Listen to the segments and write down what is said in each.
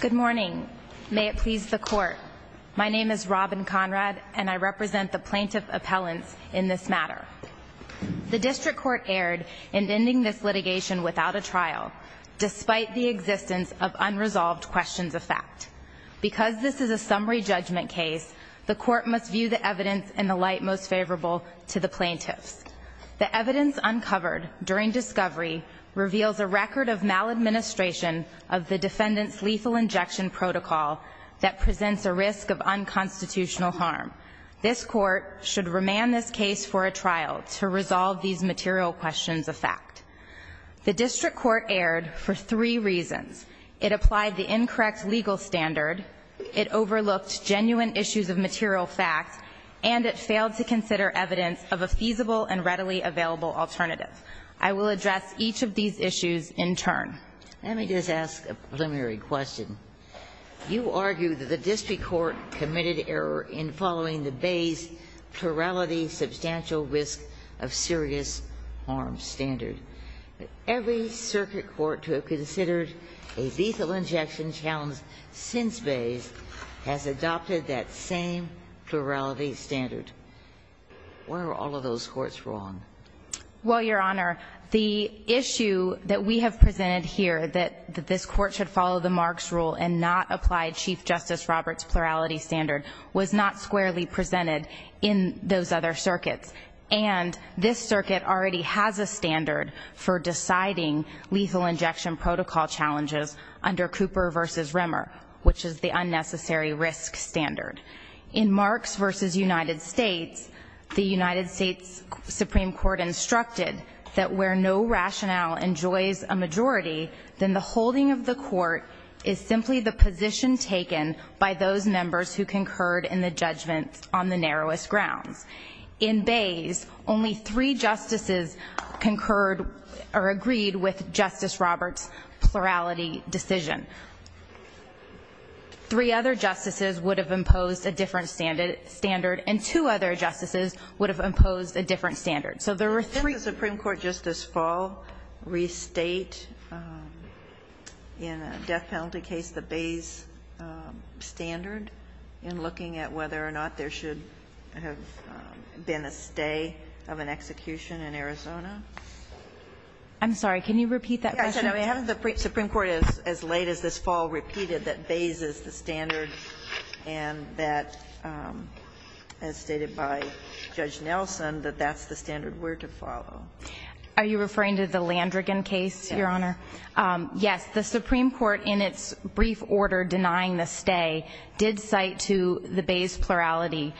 Good morning. May it please the court. My name is Robin Conrad, and I represent the plaintiff appellants in this matter. The district court erred in ending this litigation without a trial, despite the existence of unresolved questions of fact. Because this is a summary judgment case, the court must view the evidence in the light most favorable to the plaintiffs. The evidence uncovered during discovery reveals a record of maladministration of the defendant's lethal injection protocol that presents a risk of unconstitutional harm. This court should remand this case for a trial to resolve these material questions of fact. The district court erred for three reasons. It applied the incorrect legal standard. It overlooked genuine issues of material fact. And it failed to consider evidence of a feasible and readily available alternative. I will address each of these issues in turn. Ginsburg Let me just ask a preliminary question. You argue that the district court committed error in following the Bayes' plurality substantial risk of serious harm standard. Every circuit court to have considered a lethal injection challenge since Bayes has adopted that same plurality standard. Why are all of those courts wrong? Well, Your Honor, the issue that we have presented here, that this court should follow the Marks rule and not apply Chief Justice Roberts' plurality standard, was not squarely presented in those other circuits. And this circuit already has a standard for deciding lethal injection protocol challenges under Cooper v. Remmer, which is the unnecessary risk standard. In Marks v. United States, the United States Supreme Court instructed that where no rationale enjoys a majority, then the holding of the court is simply the position taken by those members who concurred in the judgment on the narrowest grounds. In Bayes, only three justices concurred or agreed with Justice Roberts' plurality decision. Three other justices would have imposed a different standard, and two other justices would have imposed a different standard. So there were three. Can the Supreme Court just this fall restate in a death penalty case the Bayes standard in looking at whether or not there should have been a stay of an execution in Arizona? I'm sorry. Can you repeat that question? Yes. I mean, haven't the Supreme Court as late as this fall repeated that Bayes is the standard and that, as stated by Judge Nelson, that that's the standard we're to follow? Are you referring to the Landrigan case, Your Honor? Yes. Yes. The Supreme Court, in its brief order denying the stay, did cite to the Bayes plurality,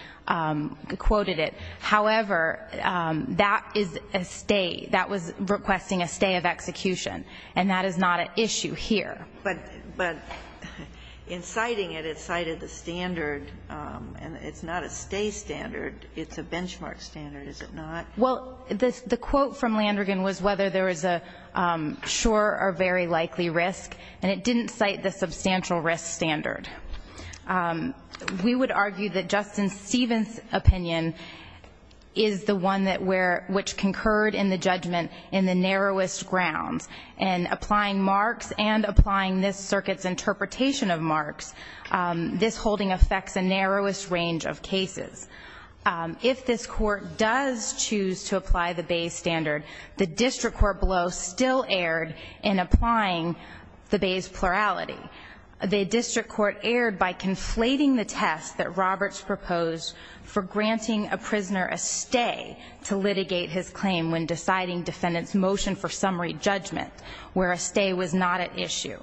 quoted it. However, that is a stay. That was requesting a stay of execution. And that is not an issue here. But in citing it, it cited the standard, and it's not a stay standard. It's a benchmark standard, is it not? Well, the quote from Landrigan was whether there is a sure or very likely risk, and it didn't cite the substantial risk standard. We would argue that Justice Stevens' opinion is the one that where, which concurred in the judgment in the narrowest grounds. In applying Marx and applying this circuit's interpretation of Marx, this holding affects the narrowest range of cases. If this Court does choose to apply the Bayes standard, the district court below still erred in applying the Bayes plurality. The district court erred by conflating the test that Roberts proposed for granting a prisoner a stay to litigate his claim when deciding defendant's motion for summary judgment. Where a stay was not at issue.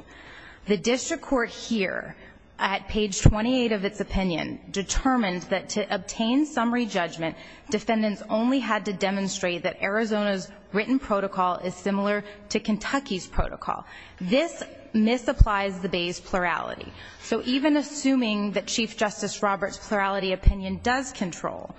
The district court here, at page 28 of its opinion, determined that to obtain summary judgment, defendants only had to demonstrate that Arizona's written protocol is similar to Kentucky's protocol. This misapplies the Bayes plurality. So even assuming that Chief Justice Roberts' plurality opinion does control,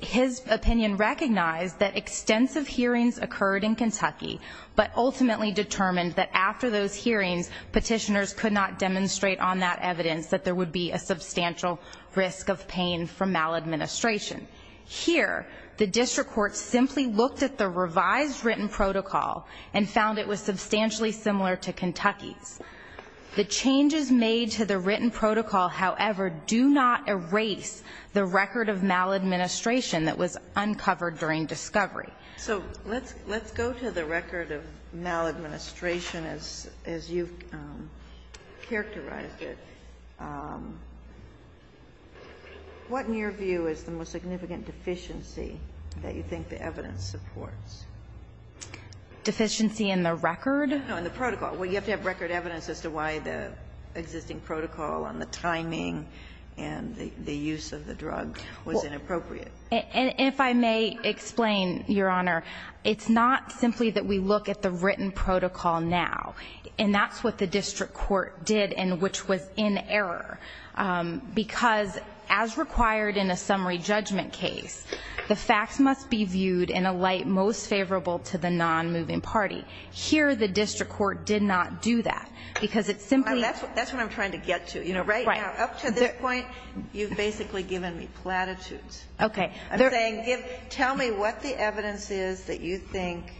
his opinion recognized that extensive hearings occurred in Kentucky, but ultimately determined that after those hearings, petitioners could not demonstrate on that evidence that there would be a substantial risk of pain from maladministration. Here, the district court simply looked at the revised written protocol and found it was substantially similar to Kentucky's. The changes made to the written protocol, however, do not erase the record of maladministration that was uncovered during discovery. So let's go to the record of maladministration as you've characterized it. What, in your view, is the most significant deficiency that you think the evidence supports? Deficiency in the record? No, in the protocol. Well, you have to have record evidence as to why the existing protocol on the timing and the use of the drug was inappropriate. If I may explain, Your Honor, it's not simply that we look at the written protocol now, and that's what the district court did and which was in error, because as required in a summary judgment case, the facts must be viewed in a light most favorable to the non-moving party. Here, the district court did not do that, because it simply ---- That's what I'm trying to get to. Right now, up to this point, you've basically given me platitudes. Okay. I'm saying tell me what the evidence is that you think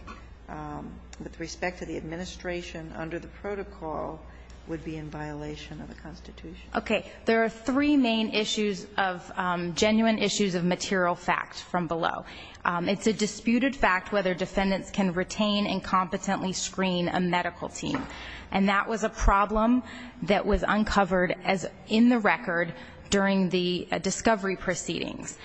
with respect to the administration under the protocol would be in violation of the Constitution. Okay. There are three main issues of genuine issues of material fact from below. It's a disputed fact whether defendants can retain and competently screen a medical team, and that was a problem that was uncovered in the record during the discovery proceedings.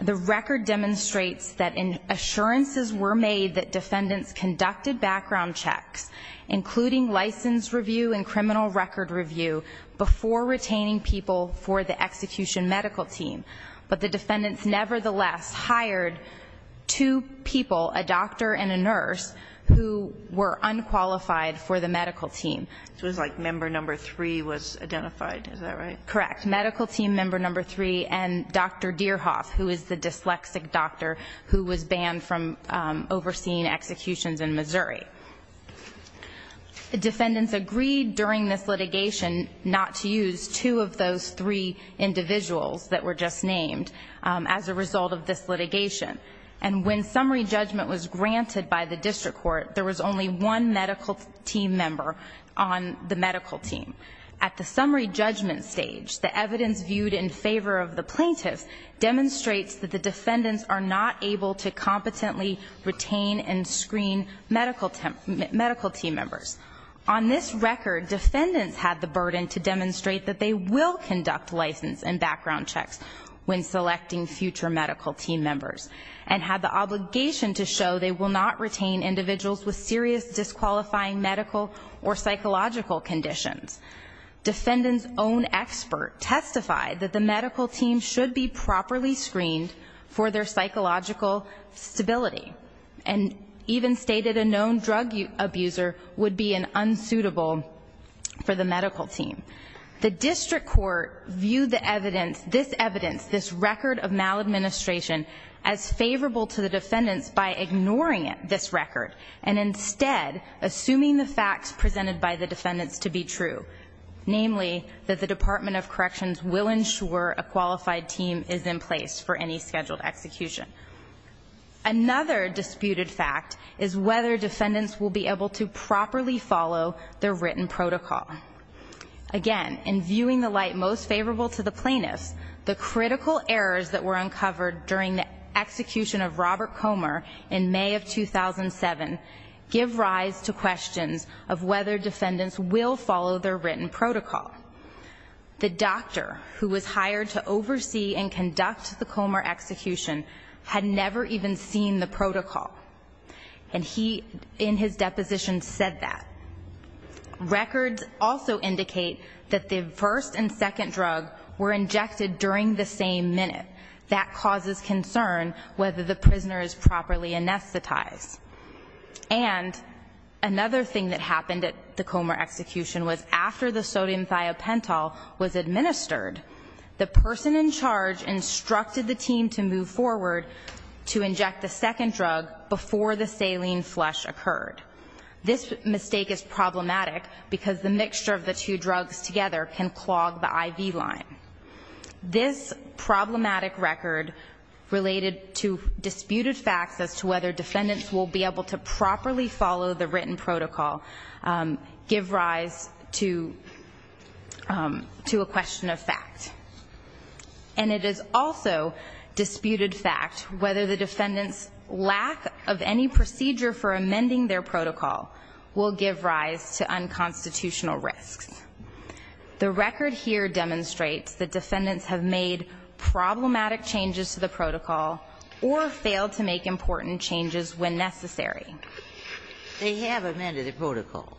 The record demonstrates that assurances were made that defendants conducted background checks, including license review and criminal record review, before retaining people for the execution medical team, but the defendants nevertheless hired two people, a doctor and a nurse, who were unqualified for the medical team. So it was like member number three was identified. Is that right? Correct. Medical team member number three and Dr. Deerhoff, who is the dyslexic doctor, who was banned from overseeing executions in Missouri. Defendants agreed during this litigation not to use two of those three individuals that were just named as a result of this litigation, and when summary judgment was granted by the district court, there was only one medical team member on the medical team. At the summary judgment stage, the evidence viewed in favor of the plaintiffs demonstrates that the defendants are not able to competently retain and screen medical team members. On this record, defendants had the burden to demonstrate that they will conduct license and background checks when selecting future medical team members, and had the obligation to show they will not retain individuals with serious disqualifying medical or psychological conditions. Defendants' own expert testified that the medical team should be properly screened for their psychological stability, and even stated a known drug abuser would be unsuitable for the medical team. The district court viewed this evidence, this record of maladministration, as favorable to the defendants by ignoring this record and instead assuming the facts presented by the defendants to be true, namely that the Department of Corrections will ensure a qualified team is in place for any scheduled execution. Another disputed fact is whether defendants will be able to properly follow their written protocol. Again, in viewing the light most favorable to the plaintiffs, the critical errors that were uncovered during the execution of Robert Comer in May of 2007 give rise to questions of whether defendants will follow their written protocol. The doctor who was hired to oversee and conduct the Comer execution had never even seen the protocol, and he, in his deposition, said that. Records also indicate that the first and second drug were injected during the same minute. That causes concern whether the prisoner is properly anesthetized. And another thing that happened at the Comer execution was after the sodium thiopental was administered, the person in charge instructed the team to move forward to inject the second drug before the saline flush occurred. This mistake is problematic because the mixture of the two drugs together can clog the IV line. This problematic record related to disputed facts as to whether defendants will be able to properly follow the written protocol give rise to a question of fact. And it is also disputed fact whether the defendant's lack of any procedure for amending their protocol will give rise to unconstitutional risks. The record here demonstrates that defendants have made problematic changes to the protocol or failed to make important changes when necessary. They have amended the protocol.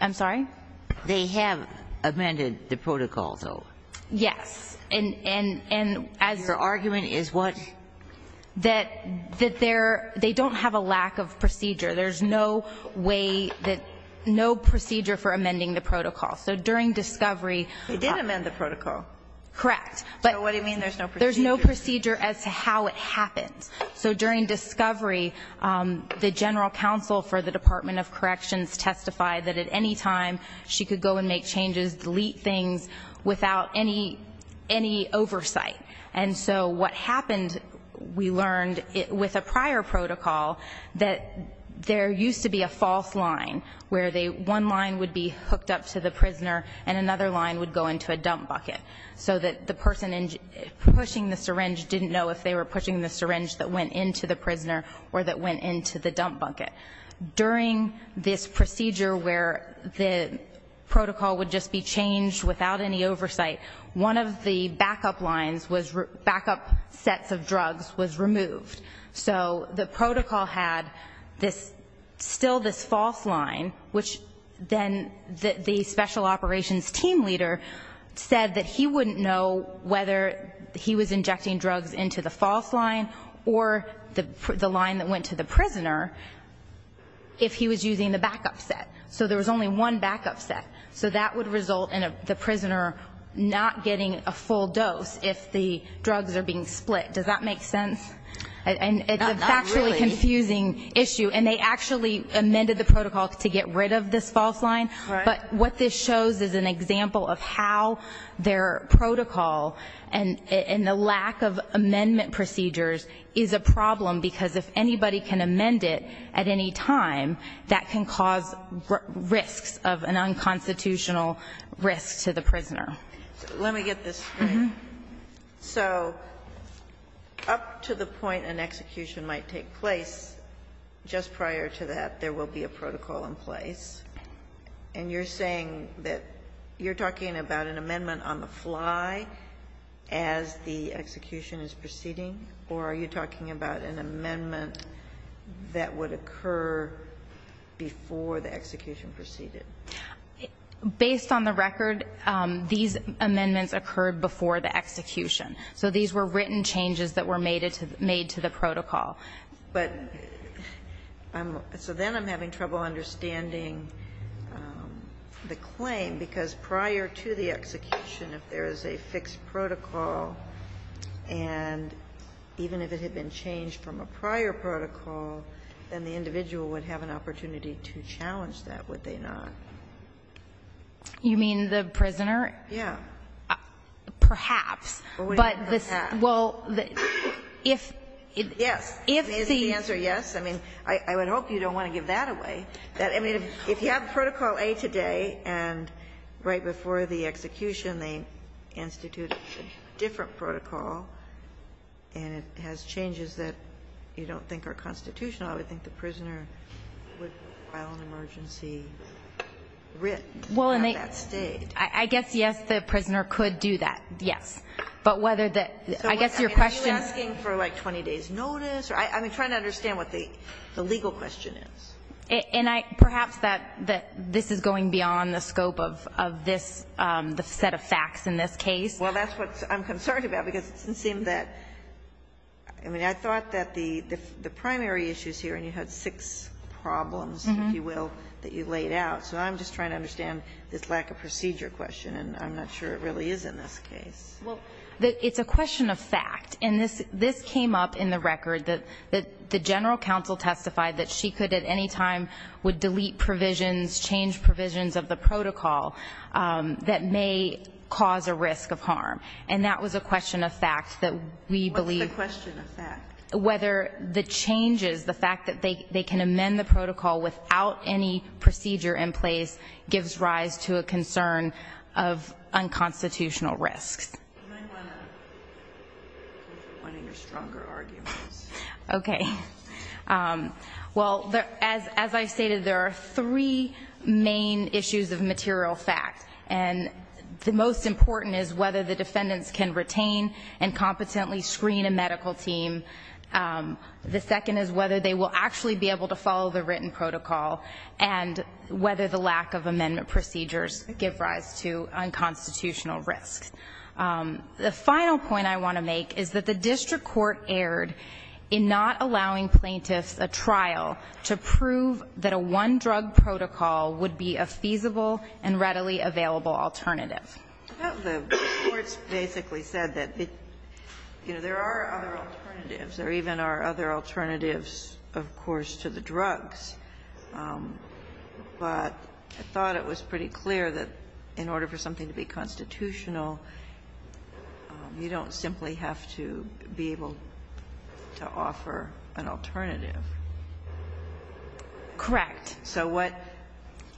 I'm sorry? They have amended the protocol, though. Yes. And as your argument is what? That they're they don't have a lack of procedure. There's no way that no procedure for amending the protocol. So during discovery. They did amend the protocol. Correct. So what do you mean there's no procedure? There's no procedure as to how it happened. So during discovery, the general counsel for the Department of Corrections testified that at any time she could go and make changes, delete things without any oversight. And so what happened, we learned, with a prior protocol, that there used to be a false line where one line would be hooked up to the prisoner and another line would go into a dump bucket so that the person pushing the syringe didn't know if they were pushing the syringe that went into the prisoner or that went into the dump bucket. During this procedure where the protocol would just be changed without any oversight, one of the backup lines was backup sets of drugs was removed. So the protocol had this still this false line, which then the special operations team leader said that he wouldn't know whether he was injecting drugs into the false line or the line that went to the prisoner if he was using the backup set. So there was only one backup set. So that would result in the prisoner not getting a full dose if the drugs are being split. Does that make sense? Not really. It's a factually confusing issue. And they actually amended the protocol to get rid of this false line. Right. But what this shows is an example of how their protocol and the lack of amendment procedures is a problem, because if anybody can amend it at any time, that can cause risks of an unconstitutional risk to the prisoner. Let me get this straight. So up to the point an execution might take place, just prior to that there will be a protocol in place. And you're saying that you're talking about an amendment on the fly as the execution is proceeding? Or are you talking about an amendment that would occur before the execution proceeded? Based on the record, these amendments occurred before the execution. So these were written changes that were made to the protocol. But I'm so then I'm having trouble understanding the claim, because prior to the execution, if there is a fixed protocol, and even if it had been changed from a prior protocol, then the individual would have an opportunity to challenge that, would they not? You mean the prisoner? Yeah. Perhaps. But this will, if it. Yes. Is the answer yes? I mean, I would hope you don't want to give that away. I mean, if you have protocol A today, and right before the execution they institute a different protocol, and it has changes that you don't think are constitutional, I would think the prisoner would file an emergency writ at that stage. I guess, yes, the prisoner could do that, yes. But whether the, I guess your question. Are you asking for, like, 20 days' notice? I'm trying to understand what the legal question is. And I, perhaps, that this is going beyond the scope of this, the set of facts in this case. Well, that's what I'm concerned about, because it doesn't seem that, I mean, I thought that the primary issues here, and you had six problems, if you will, that you laid out. So I'm just trying to understand this lack of procedure question, and I'm not sure it really is in this case. Well, it's a question of fact. And this came up in the record that the general counsel testified that she could at any time would delete provisions, change provisions of the protocol that may cause a risk of harm. And that was a question of fact that we believe. What's the question of fact? Whether the changes, the fact that they can amend the protocol without any procedure in place gives rise to a concern of unconstitutional risks. I might want to go for one of your stronger arguments. Okay. Well, as I stated, there are three main issues of material fact. And the most important is whether the defendants can retain and competently screen a medical team. The second is whether they will actually be able to follow the written protocol and whether the lack of amendment procedures give rise to unconstitutional risks. The final point I want to make is that the district court erred in not allowing plaintiffs a trial to prove that a one-drug protocol would be a feasible and readily available alternative. The courts basically said that, you know, there are other alternatives. There even are other alternatives, of course, to the drugs. But I thought it was pretty clear that in order for something to be constitutional, you don't simply have to be able to offer an alternative. Correct. So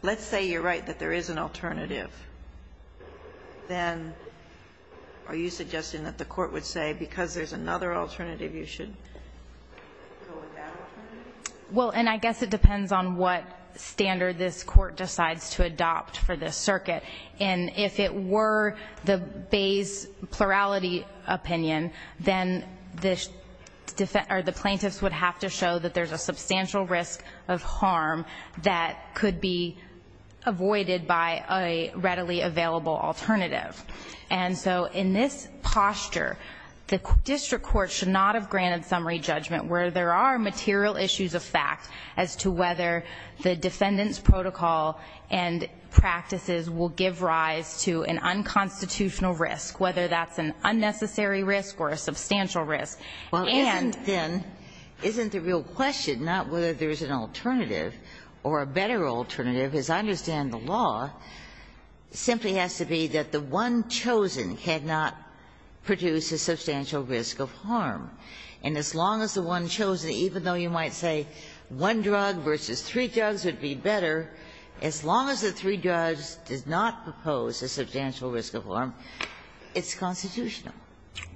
let's say you're right that there is an alternative. Then are you suggesting that the court would say because there's another alternative you should go with that alternative? Well, and I guess it depends on what standard this court decides to adopt for this circuit. And if it were the base plurality opinion, then the plaintiffs would have to show that there's a substantial risk of harm that could be avoided by a readily available alternative. And so in this posture, the district court should not have granted summary judgment where there are material issues of fact as to whether the defendant's protocol and practices will give rise to an unconstitutional risk, whether that's an unnecessary risk or a substantial risk. And then isn't the real question not whether there's an alternative or a better alternative, as I understand the law, simply has to be that the one chosen cannot produce a substantial risk of harm. And as long as the one chosen, even though you might say one drug versus three drugs would be better, as long as the three drugs does not propose a substantial risk of harm, it's constitutional.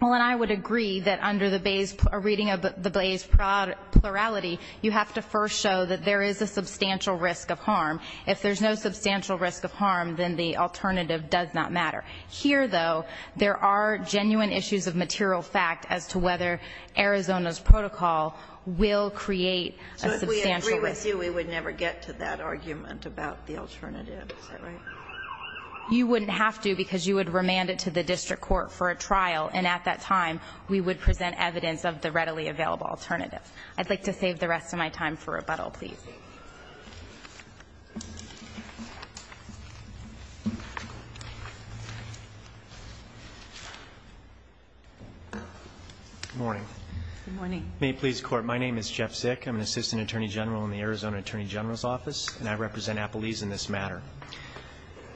Well, and I would agree that under the Bayes' reading of the Bayes' plurality, you have to first show that there is a substantial risk of harm. If there's no substantial risk of harm, then the alternative does not matter. Here, though, there are genuine issues of material fact as to whether Arizona's protocol will create a substantial risk. If we agree with you, we would never get to that argument about the alternative. Is that right? You wouldn't have to, because you would remand it to the district court for a trial, and at that time, we would present evidence of the readily available alternative. I'd like to save the rest of my time for rebuttal, please. Good morning. Good morning. May it please the Court. My name is Jeff Sick. I'm an assistant attorney general in the Arizona Attorney General's Office, and I represent Appalese in this matter.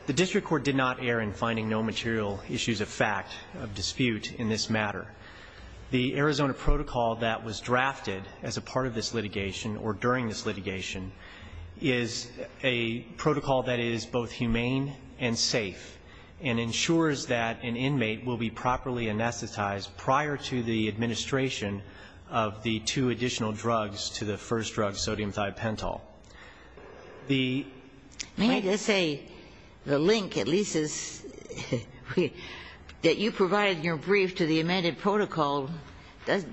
The district court did not err in finding no material issues of fact of dispute in this matter. The Arizona protocol that was drafted as a part of this litigation, or during this litigation, is a protocol that is both humane and safe, and ensures that an inmate will be properly anesthetized prior to the administration of the two additional drugs to the first drug, sodium thiopental. The- May I just say, the link, at least, is that you provided your brief to the amended protocol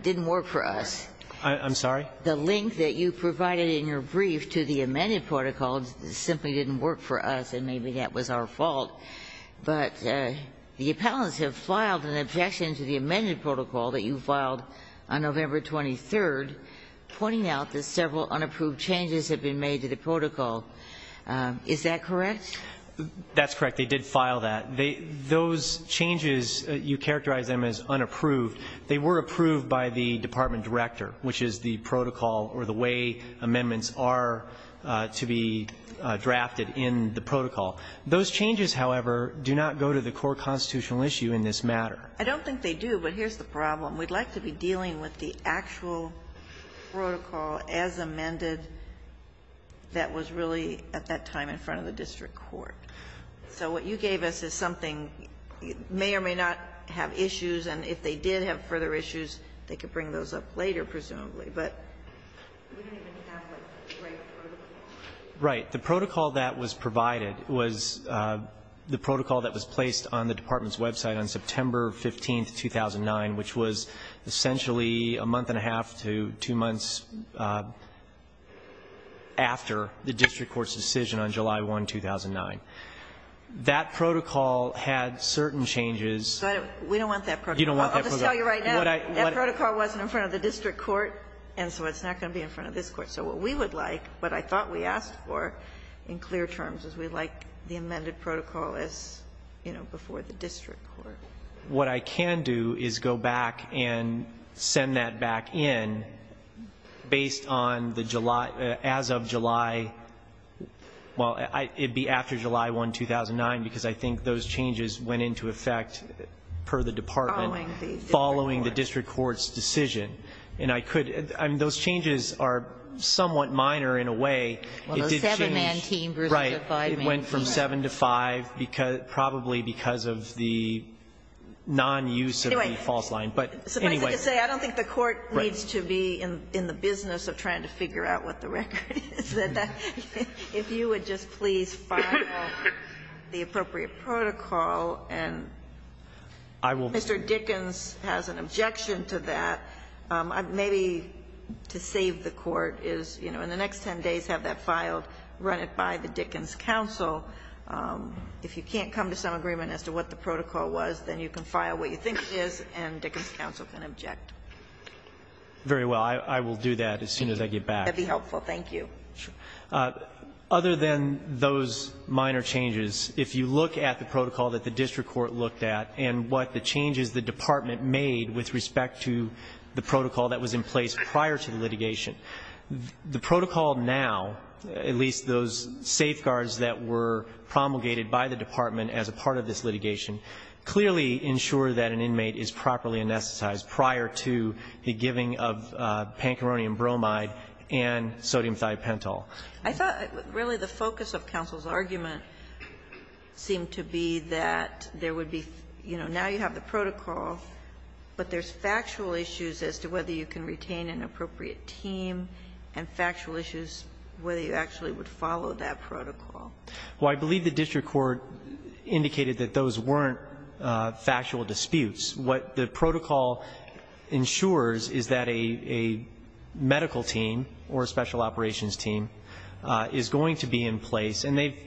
didn't work for us. I'm sorry? The link that you provided in your brief to the amended protocol simply didn't work for us, and maybe that was our fault. But the appellants have filed an objection to the amended protocol that you filed on November 23rd, pointing out that several unapproved changes have been made to the protocol. Is that correct? That's correct. They did file that. Those changes, you characterize them as unapproved. They were approved by the department director, which is the protocol or the way amendments are to be drafted in the protocol. Those changes, however, do not go to the core constitutional issue in this matter. I don't think they do, but here's the problem. We'd like to be dealing with the actual protocol as amended that was really at that time in front of the district court. So what you gave us is something, may or may not have issues, and if they did have further issues, they could bring those up later, presumably. But we don't even have the right protocol. Right. The protocol that was provided was the protocol that was placed on the department's website on September 15th, 2009, which was essentially a month and a half to two months after the district court's decision on July 1, 2009. That protocol had certain changes. But we don't want that protocol. You don't want that protocol. I'll just tell you right now, that protocol wasn't in front of the district court, and so it's not going to be in front of this court. So what we would like, what I thought we asked for in clear terms, is we'd like the amended protocol as, you know, before the district court. What I can do is go back and send that back in based on the July, as of July, well, it'd be after July 1, 2009, because I think those changes went into effect per the department following the district court's decision. And I could, I mean, those changes are somewhat minor in a way. Well, the seven-man team versus the five-man team. Right. It went from seven to five, probably because of the non-use of the false line. But anyway. Somebody's going to say, I don't think the court needs to be in the business of trying to figure out what the record is, that if you would just please file the appropriate protocol, and Mr. Dickens has an objection to that, maybe to save the court is, you know, in the next ten days have that filed, run it by the Dickens Council. If you can't come to some agreement as to what the protocol was, then you can file what you think it is, and Dickens Council can object. Very well. I will do that as soon as I get back. That'd be helpful. Thank you. Sure. Other than those minor changes, if you look at the protocol that the district court looked at and what the changes the department made with respect to the protocol that was in place prior to the litigation, the protocol now, at least those safeguards that were promulgated by the department as a part of this litigation, clearly ensure that an inmate is properly anesthetized prior to the giving of pancarrhonium bromide and sodium thiopentol. I thought really the focus of counsel's argument seemed to be that there would be, you know, now you have the protocol, but there's factual issues as to whether you can retain an appropriate team and factual issues whether you actually would follow that protocol. Well, I believe the district court indicated that those weren't factual disputes. What the protocol ensures is that a medical team or a special operations team is going to be in place, and they've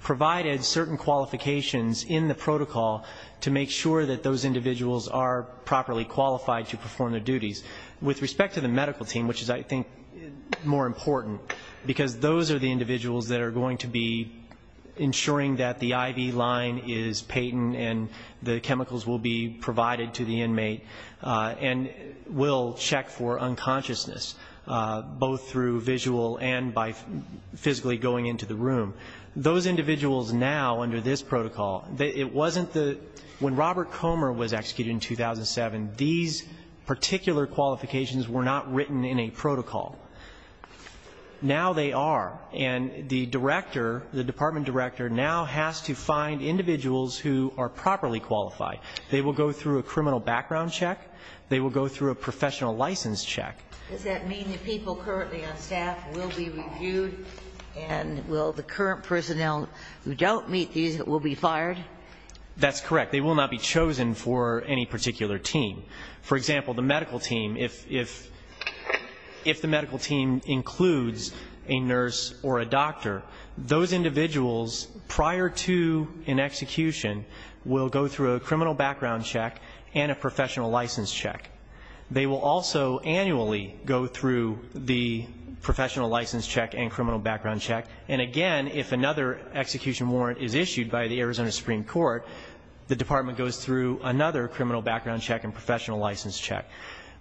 provided certain qualifications in the protocol to make sure that those individuals are properly qualified to perform their duties. With respect to the medical team, which is, I think, more important, because those are the individuals that are going to be ensuring that the IV line is patent and the chemicals will be provided to the inmate and will check for unconsciousness, both through visual and by physically going into the room. Those individuals now under this protocol, it wasn't the – when Robert Comer was executed in 2007, these particular qualifications were not written in a protocol. Now they are. And the director, the department director, now has to find individuals who are properly qualified. They will go through a criminal background check. They will go through a professional license check. Does that mean that people currently on staff will be reviewed, and will the current personnel who don't meet these will be fired? That's correct. They will not be chosen for any particular team. For example, the medical team, if the medical team includes a nurse or a doctor, those individuals prior to an execution will go through a criminal background check and a professional license check. They will also annually go through the professional license check and criminal background check. And again, if another execution warrant is issued by the Arizona Supreme Court, the department goes through another criminal background check and professional license check.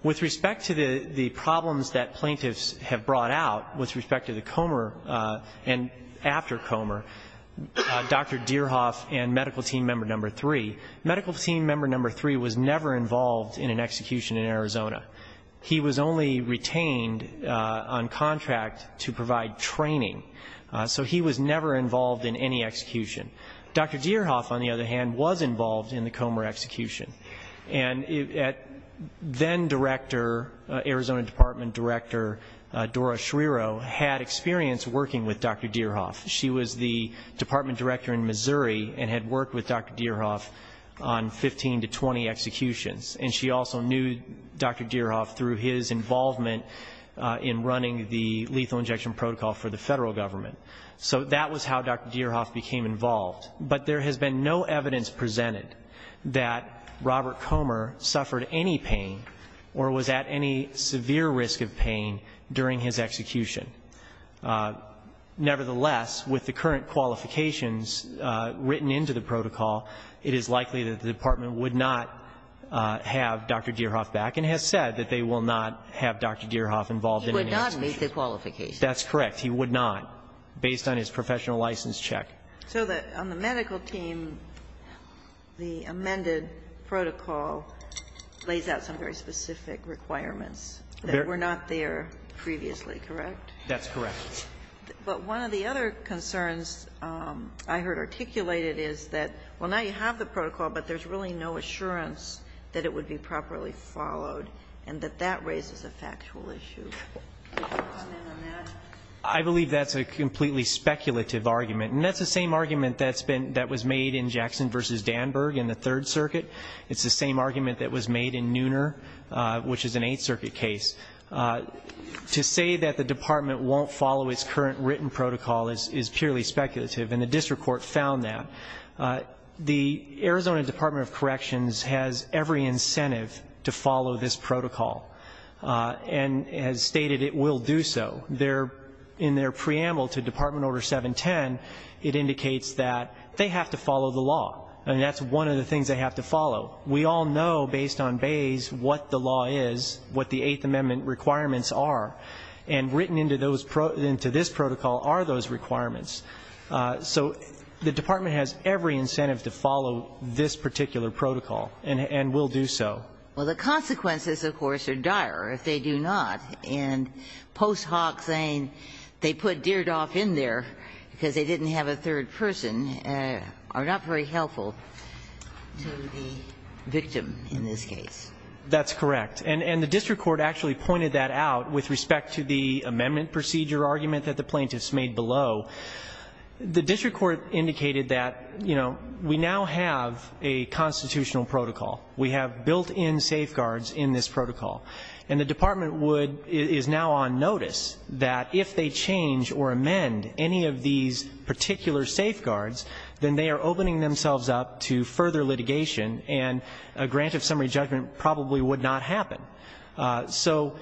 With respect to the problems that plaintiffs have brought out with respect to Comer and after Comer, Dr. Deerhoff and medical team member number three, medical team member number three was never involved in an execution in Arizona. He was only retained on contract to provide training. So he was never involved in any execution. Dr. Deerhoff, on the other hand, was involved in the Comer execution. And then director, Arizona Department Director Dora Schreiro had experience working with Dr. Deerhoff. She was the department director in Missouri and had worked with Dr. Deerhoff on 15 to 20 executions. And she also knew Dr. Deerhoff through his involvement in running the lethal injection protocol for the federal government. So that was how Dr. Deerhoff became involved. But there has been no evidence presented that Robert Comer suffered any pain or was at any severe risk of pain during his execution. Nevertheless, with the current qualifications written into the protocol, it is likely that the department would not have Dr. Deerhoff back and has said that they will not have Dr. Deerhoff involved in any execution. He would not meet the qualifications. That's correct. He would not, based on his professional license check. So on the medical team, the amended protocol lays out some very specific requirements that were not there previously, correct? That's correct. But one of the other concerns I heard articulated is that, well, now you have the protocol, but there's really no assurance that it would be properly followed and that that raises a factual issue. Could you comment on that? I believe that's a completely speculative argument, and that's the same argument that's been that was made in Jackson v. Danburg in the Third Circuit. It's the same argument that was made in Nooner, which is an Eighth Circuit case. To say that the department won't follow its current written protocol is purely speculative, and the district court found that. The Arizona Department of Corrections has every incentive to follow this protocol and has stated it will do so. In their preamble to Department Order 710, it indicates that they have to follow the law. I mean, that's one of the things they have to follow. We all know, based on Bayes, what the law is, what the Eighth Amendment requirements are, and written into this protocol are those requirements. So the department has every incentive to follow this particular protocol and will do so. Well, the consequences, of course, are dire if they do not, and post hoc saying they put a third person are not very helpful to the victim in this case. That's correct. And the district court actually pointed that out with respect to the amendment procedure argument that the plaintiffs made below. The district court indicated that, you know, we now have a constitutional protocol. We have built-in safeguards in this protocol. And the department would – is now on notice that if they change or amend any of these particular safeguards, then they are opening themselves up to further litigation and a grant of summary judgment probably would not happen. So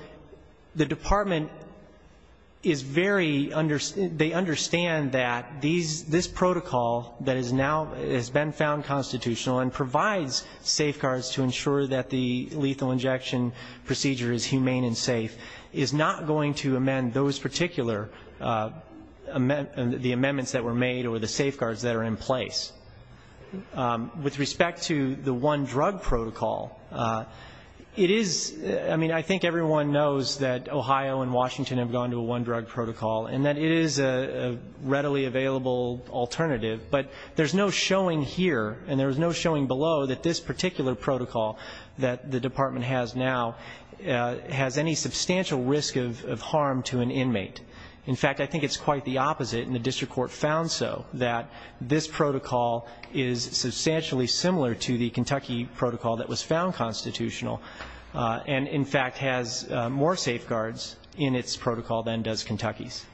the department is very – they understand that these – this protocol that is now – has been found constitutional and provides safeguards to ensure that the lethal injection procedure is humane and safe is not going to amend those particular – the amendments that were made or the safeguards that are in place. With respect to the one drug protocol, it is – I mean, I think everyone knows that Ohio and Washington have gone to a one drug protocol and that it is a readily available alternative, but there's no showing here and there's no showing below that this particular protocol now has any substantial risk of harm to an inmate. In fact, I think it's quite the opposite, and the district court found so, that this protocol is substantially similar to the Kentucky protocol that was found constitutional and, in fact, has more safeguards in its protocol than does Kentucky's.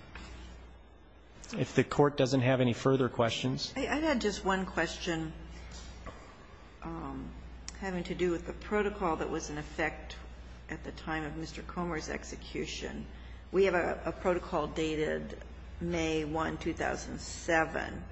If the court doesn't have any further questions. I had just one question having to do with the protocol that was in effect at the time of Mr. Comer's execution. We have a protocol dated May 1, 2007.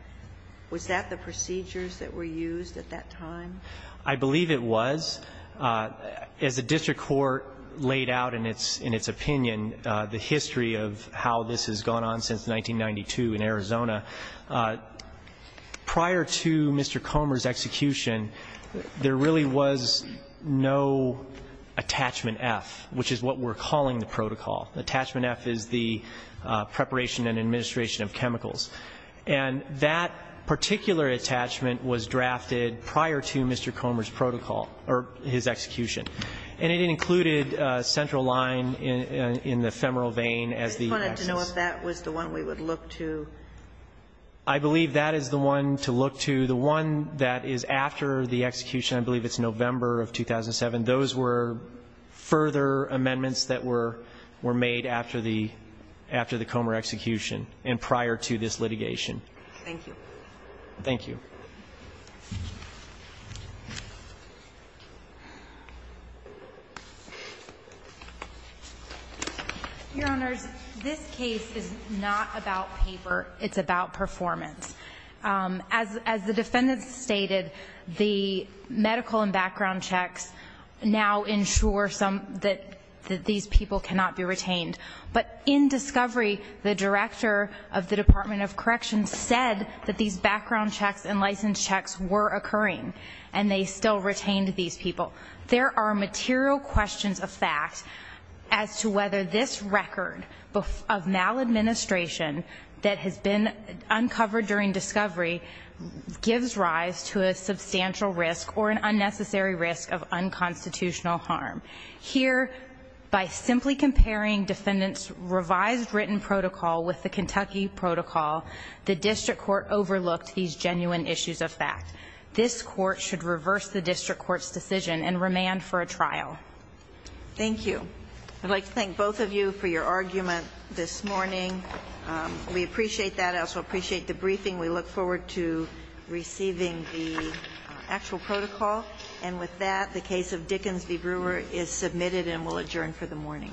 Was that the procedures that were used at that time? I believe it was. As the district court laid out in its opinion, the history of how this has gone on since 1992 in Arizona, prior to Mr. Comer's execution, there really was no attachment F, which is what we're calling the protocol. Attachment F is the preparation and administration of chemicals. And that particular attachment was drafted prior to Mr. Comer's protocol, or his execution. And it included a central line in the femoral vein as the excess. I don't know if that was the one we would look to. I believe that is the one to look to. The one that is after the execution, I believe it's November of 2007. Those were further amendments that were made after the Comer execution and prior to this litigation. Thank you. Thank you. Your Honors, this case is not about paper. It's about performance. As the defendant stated, the medical and background checks now ensure that these people cannot be retained. But in discovery, the director of the Department of Corrections said that these background checks and license checks were occurring, and they still retained these people. There are material questions of fact as to whether this record of maladministration that has been uncovered during discovery gives rise to a substantial risk or an unnecessary risk of unconstitutional harm. Here, by simply comparing defendant's revised written protocol with the Kentucky protocol, the district court overlooked these genuine issues of fact. This court should reverse the district court's decision and remand for a trial. Thank you. I'd like to thank both of you for your argument this morning. We appreciate that. I also appreciate the briefing. We look forward to receiving the actual protocol. And with that, the case of Dickens v. Brewer is submitted and will adjourn for the morning.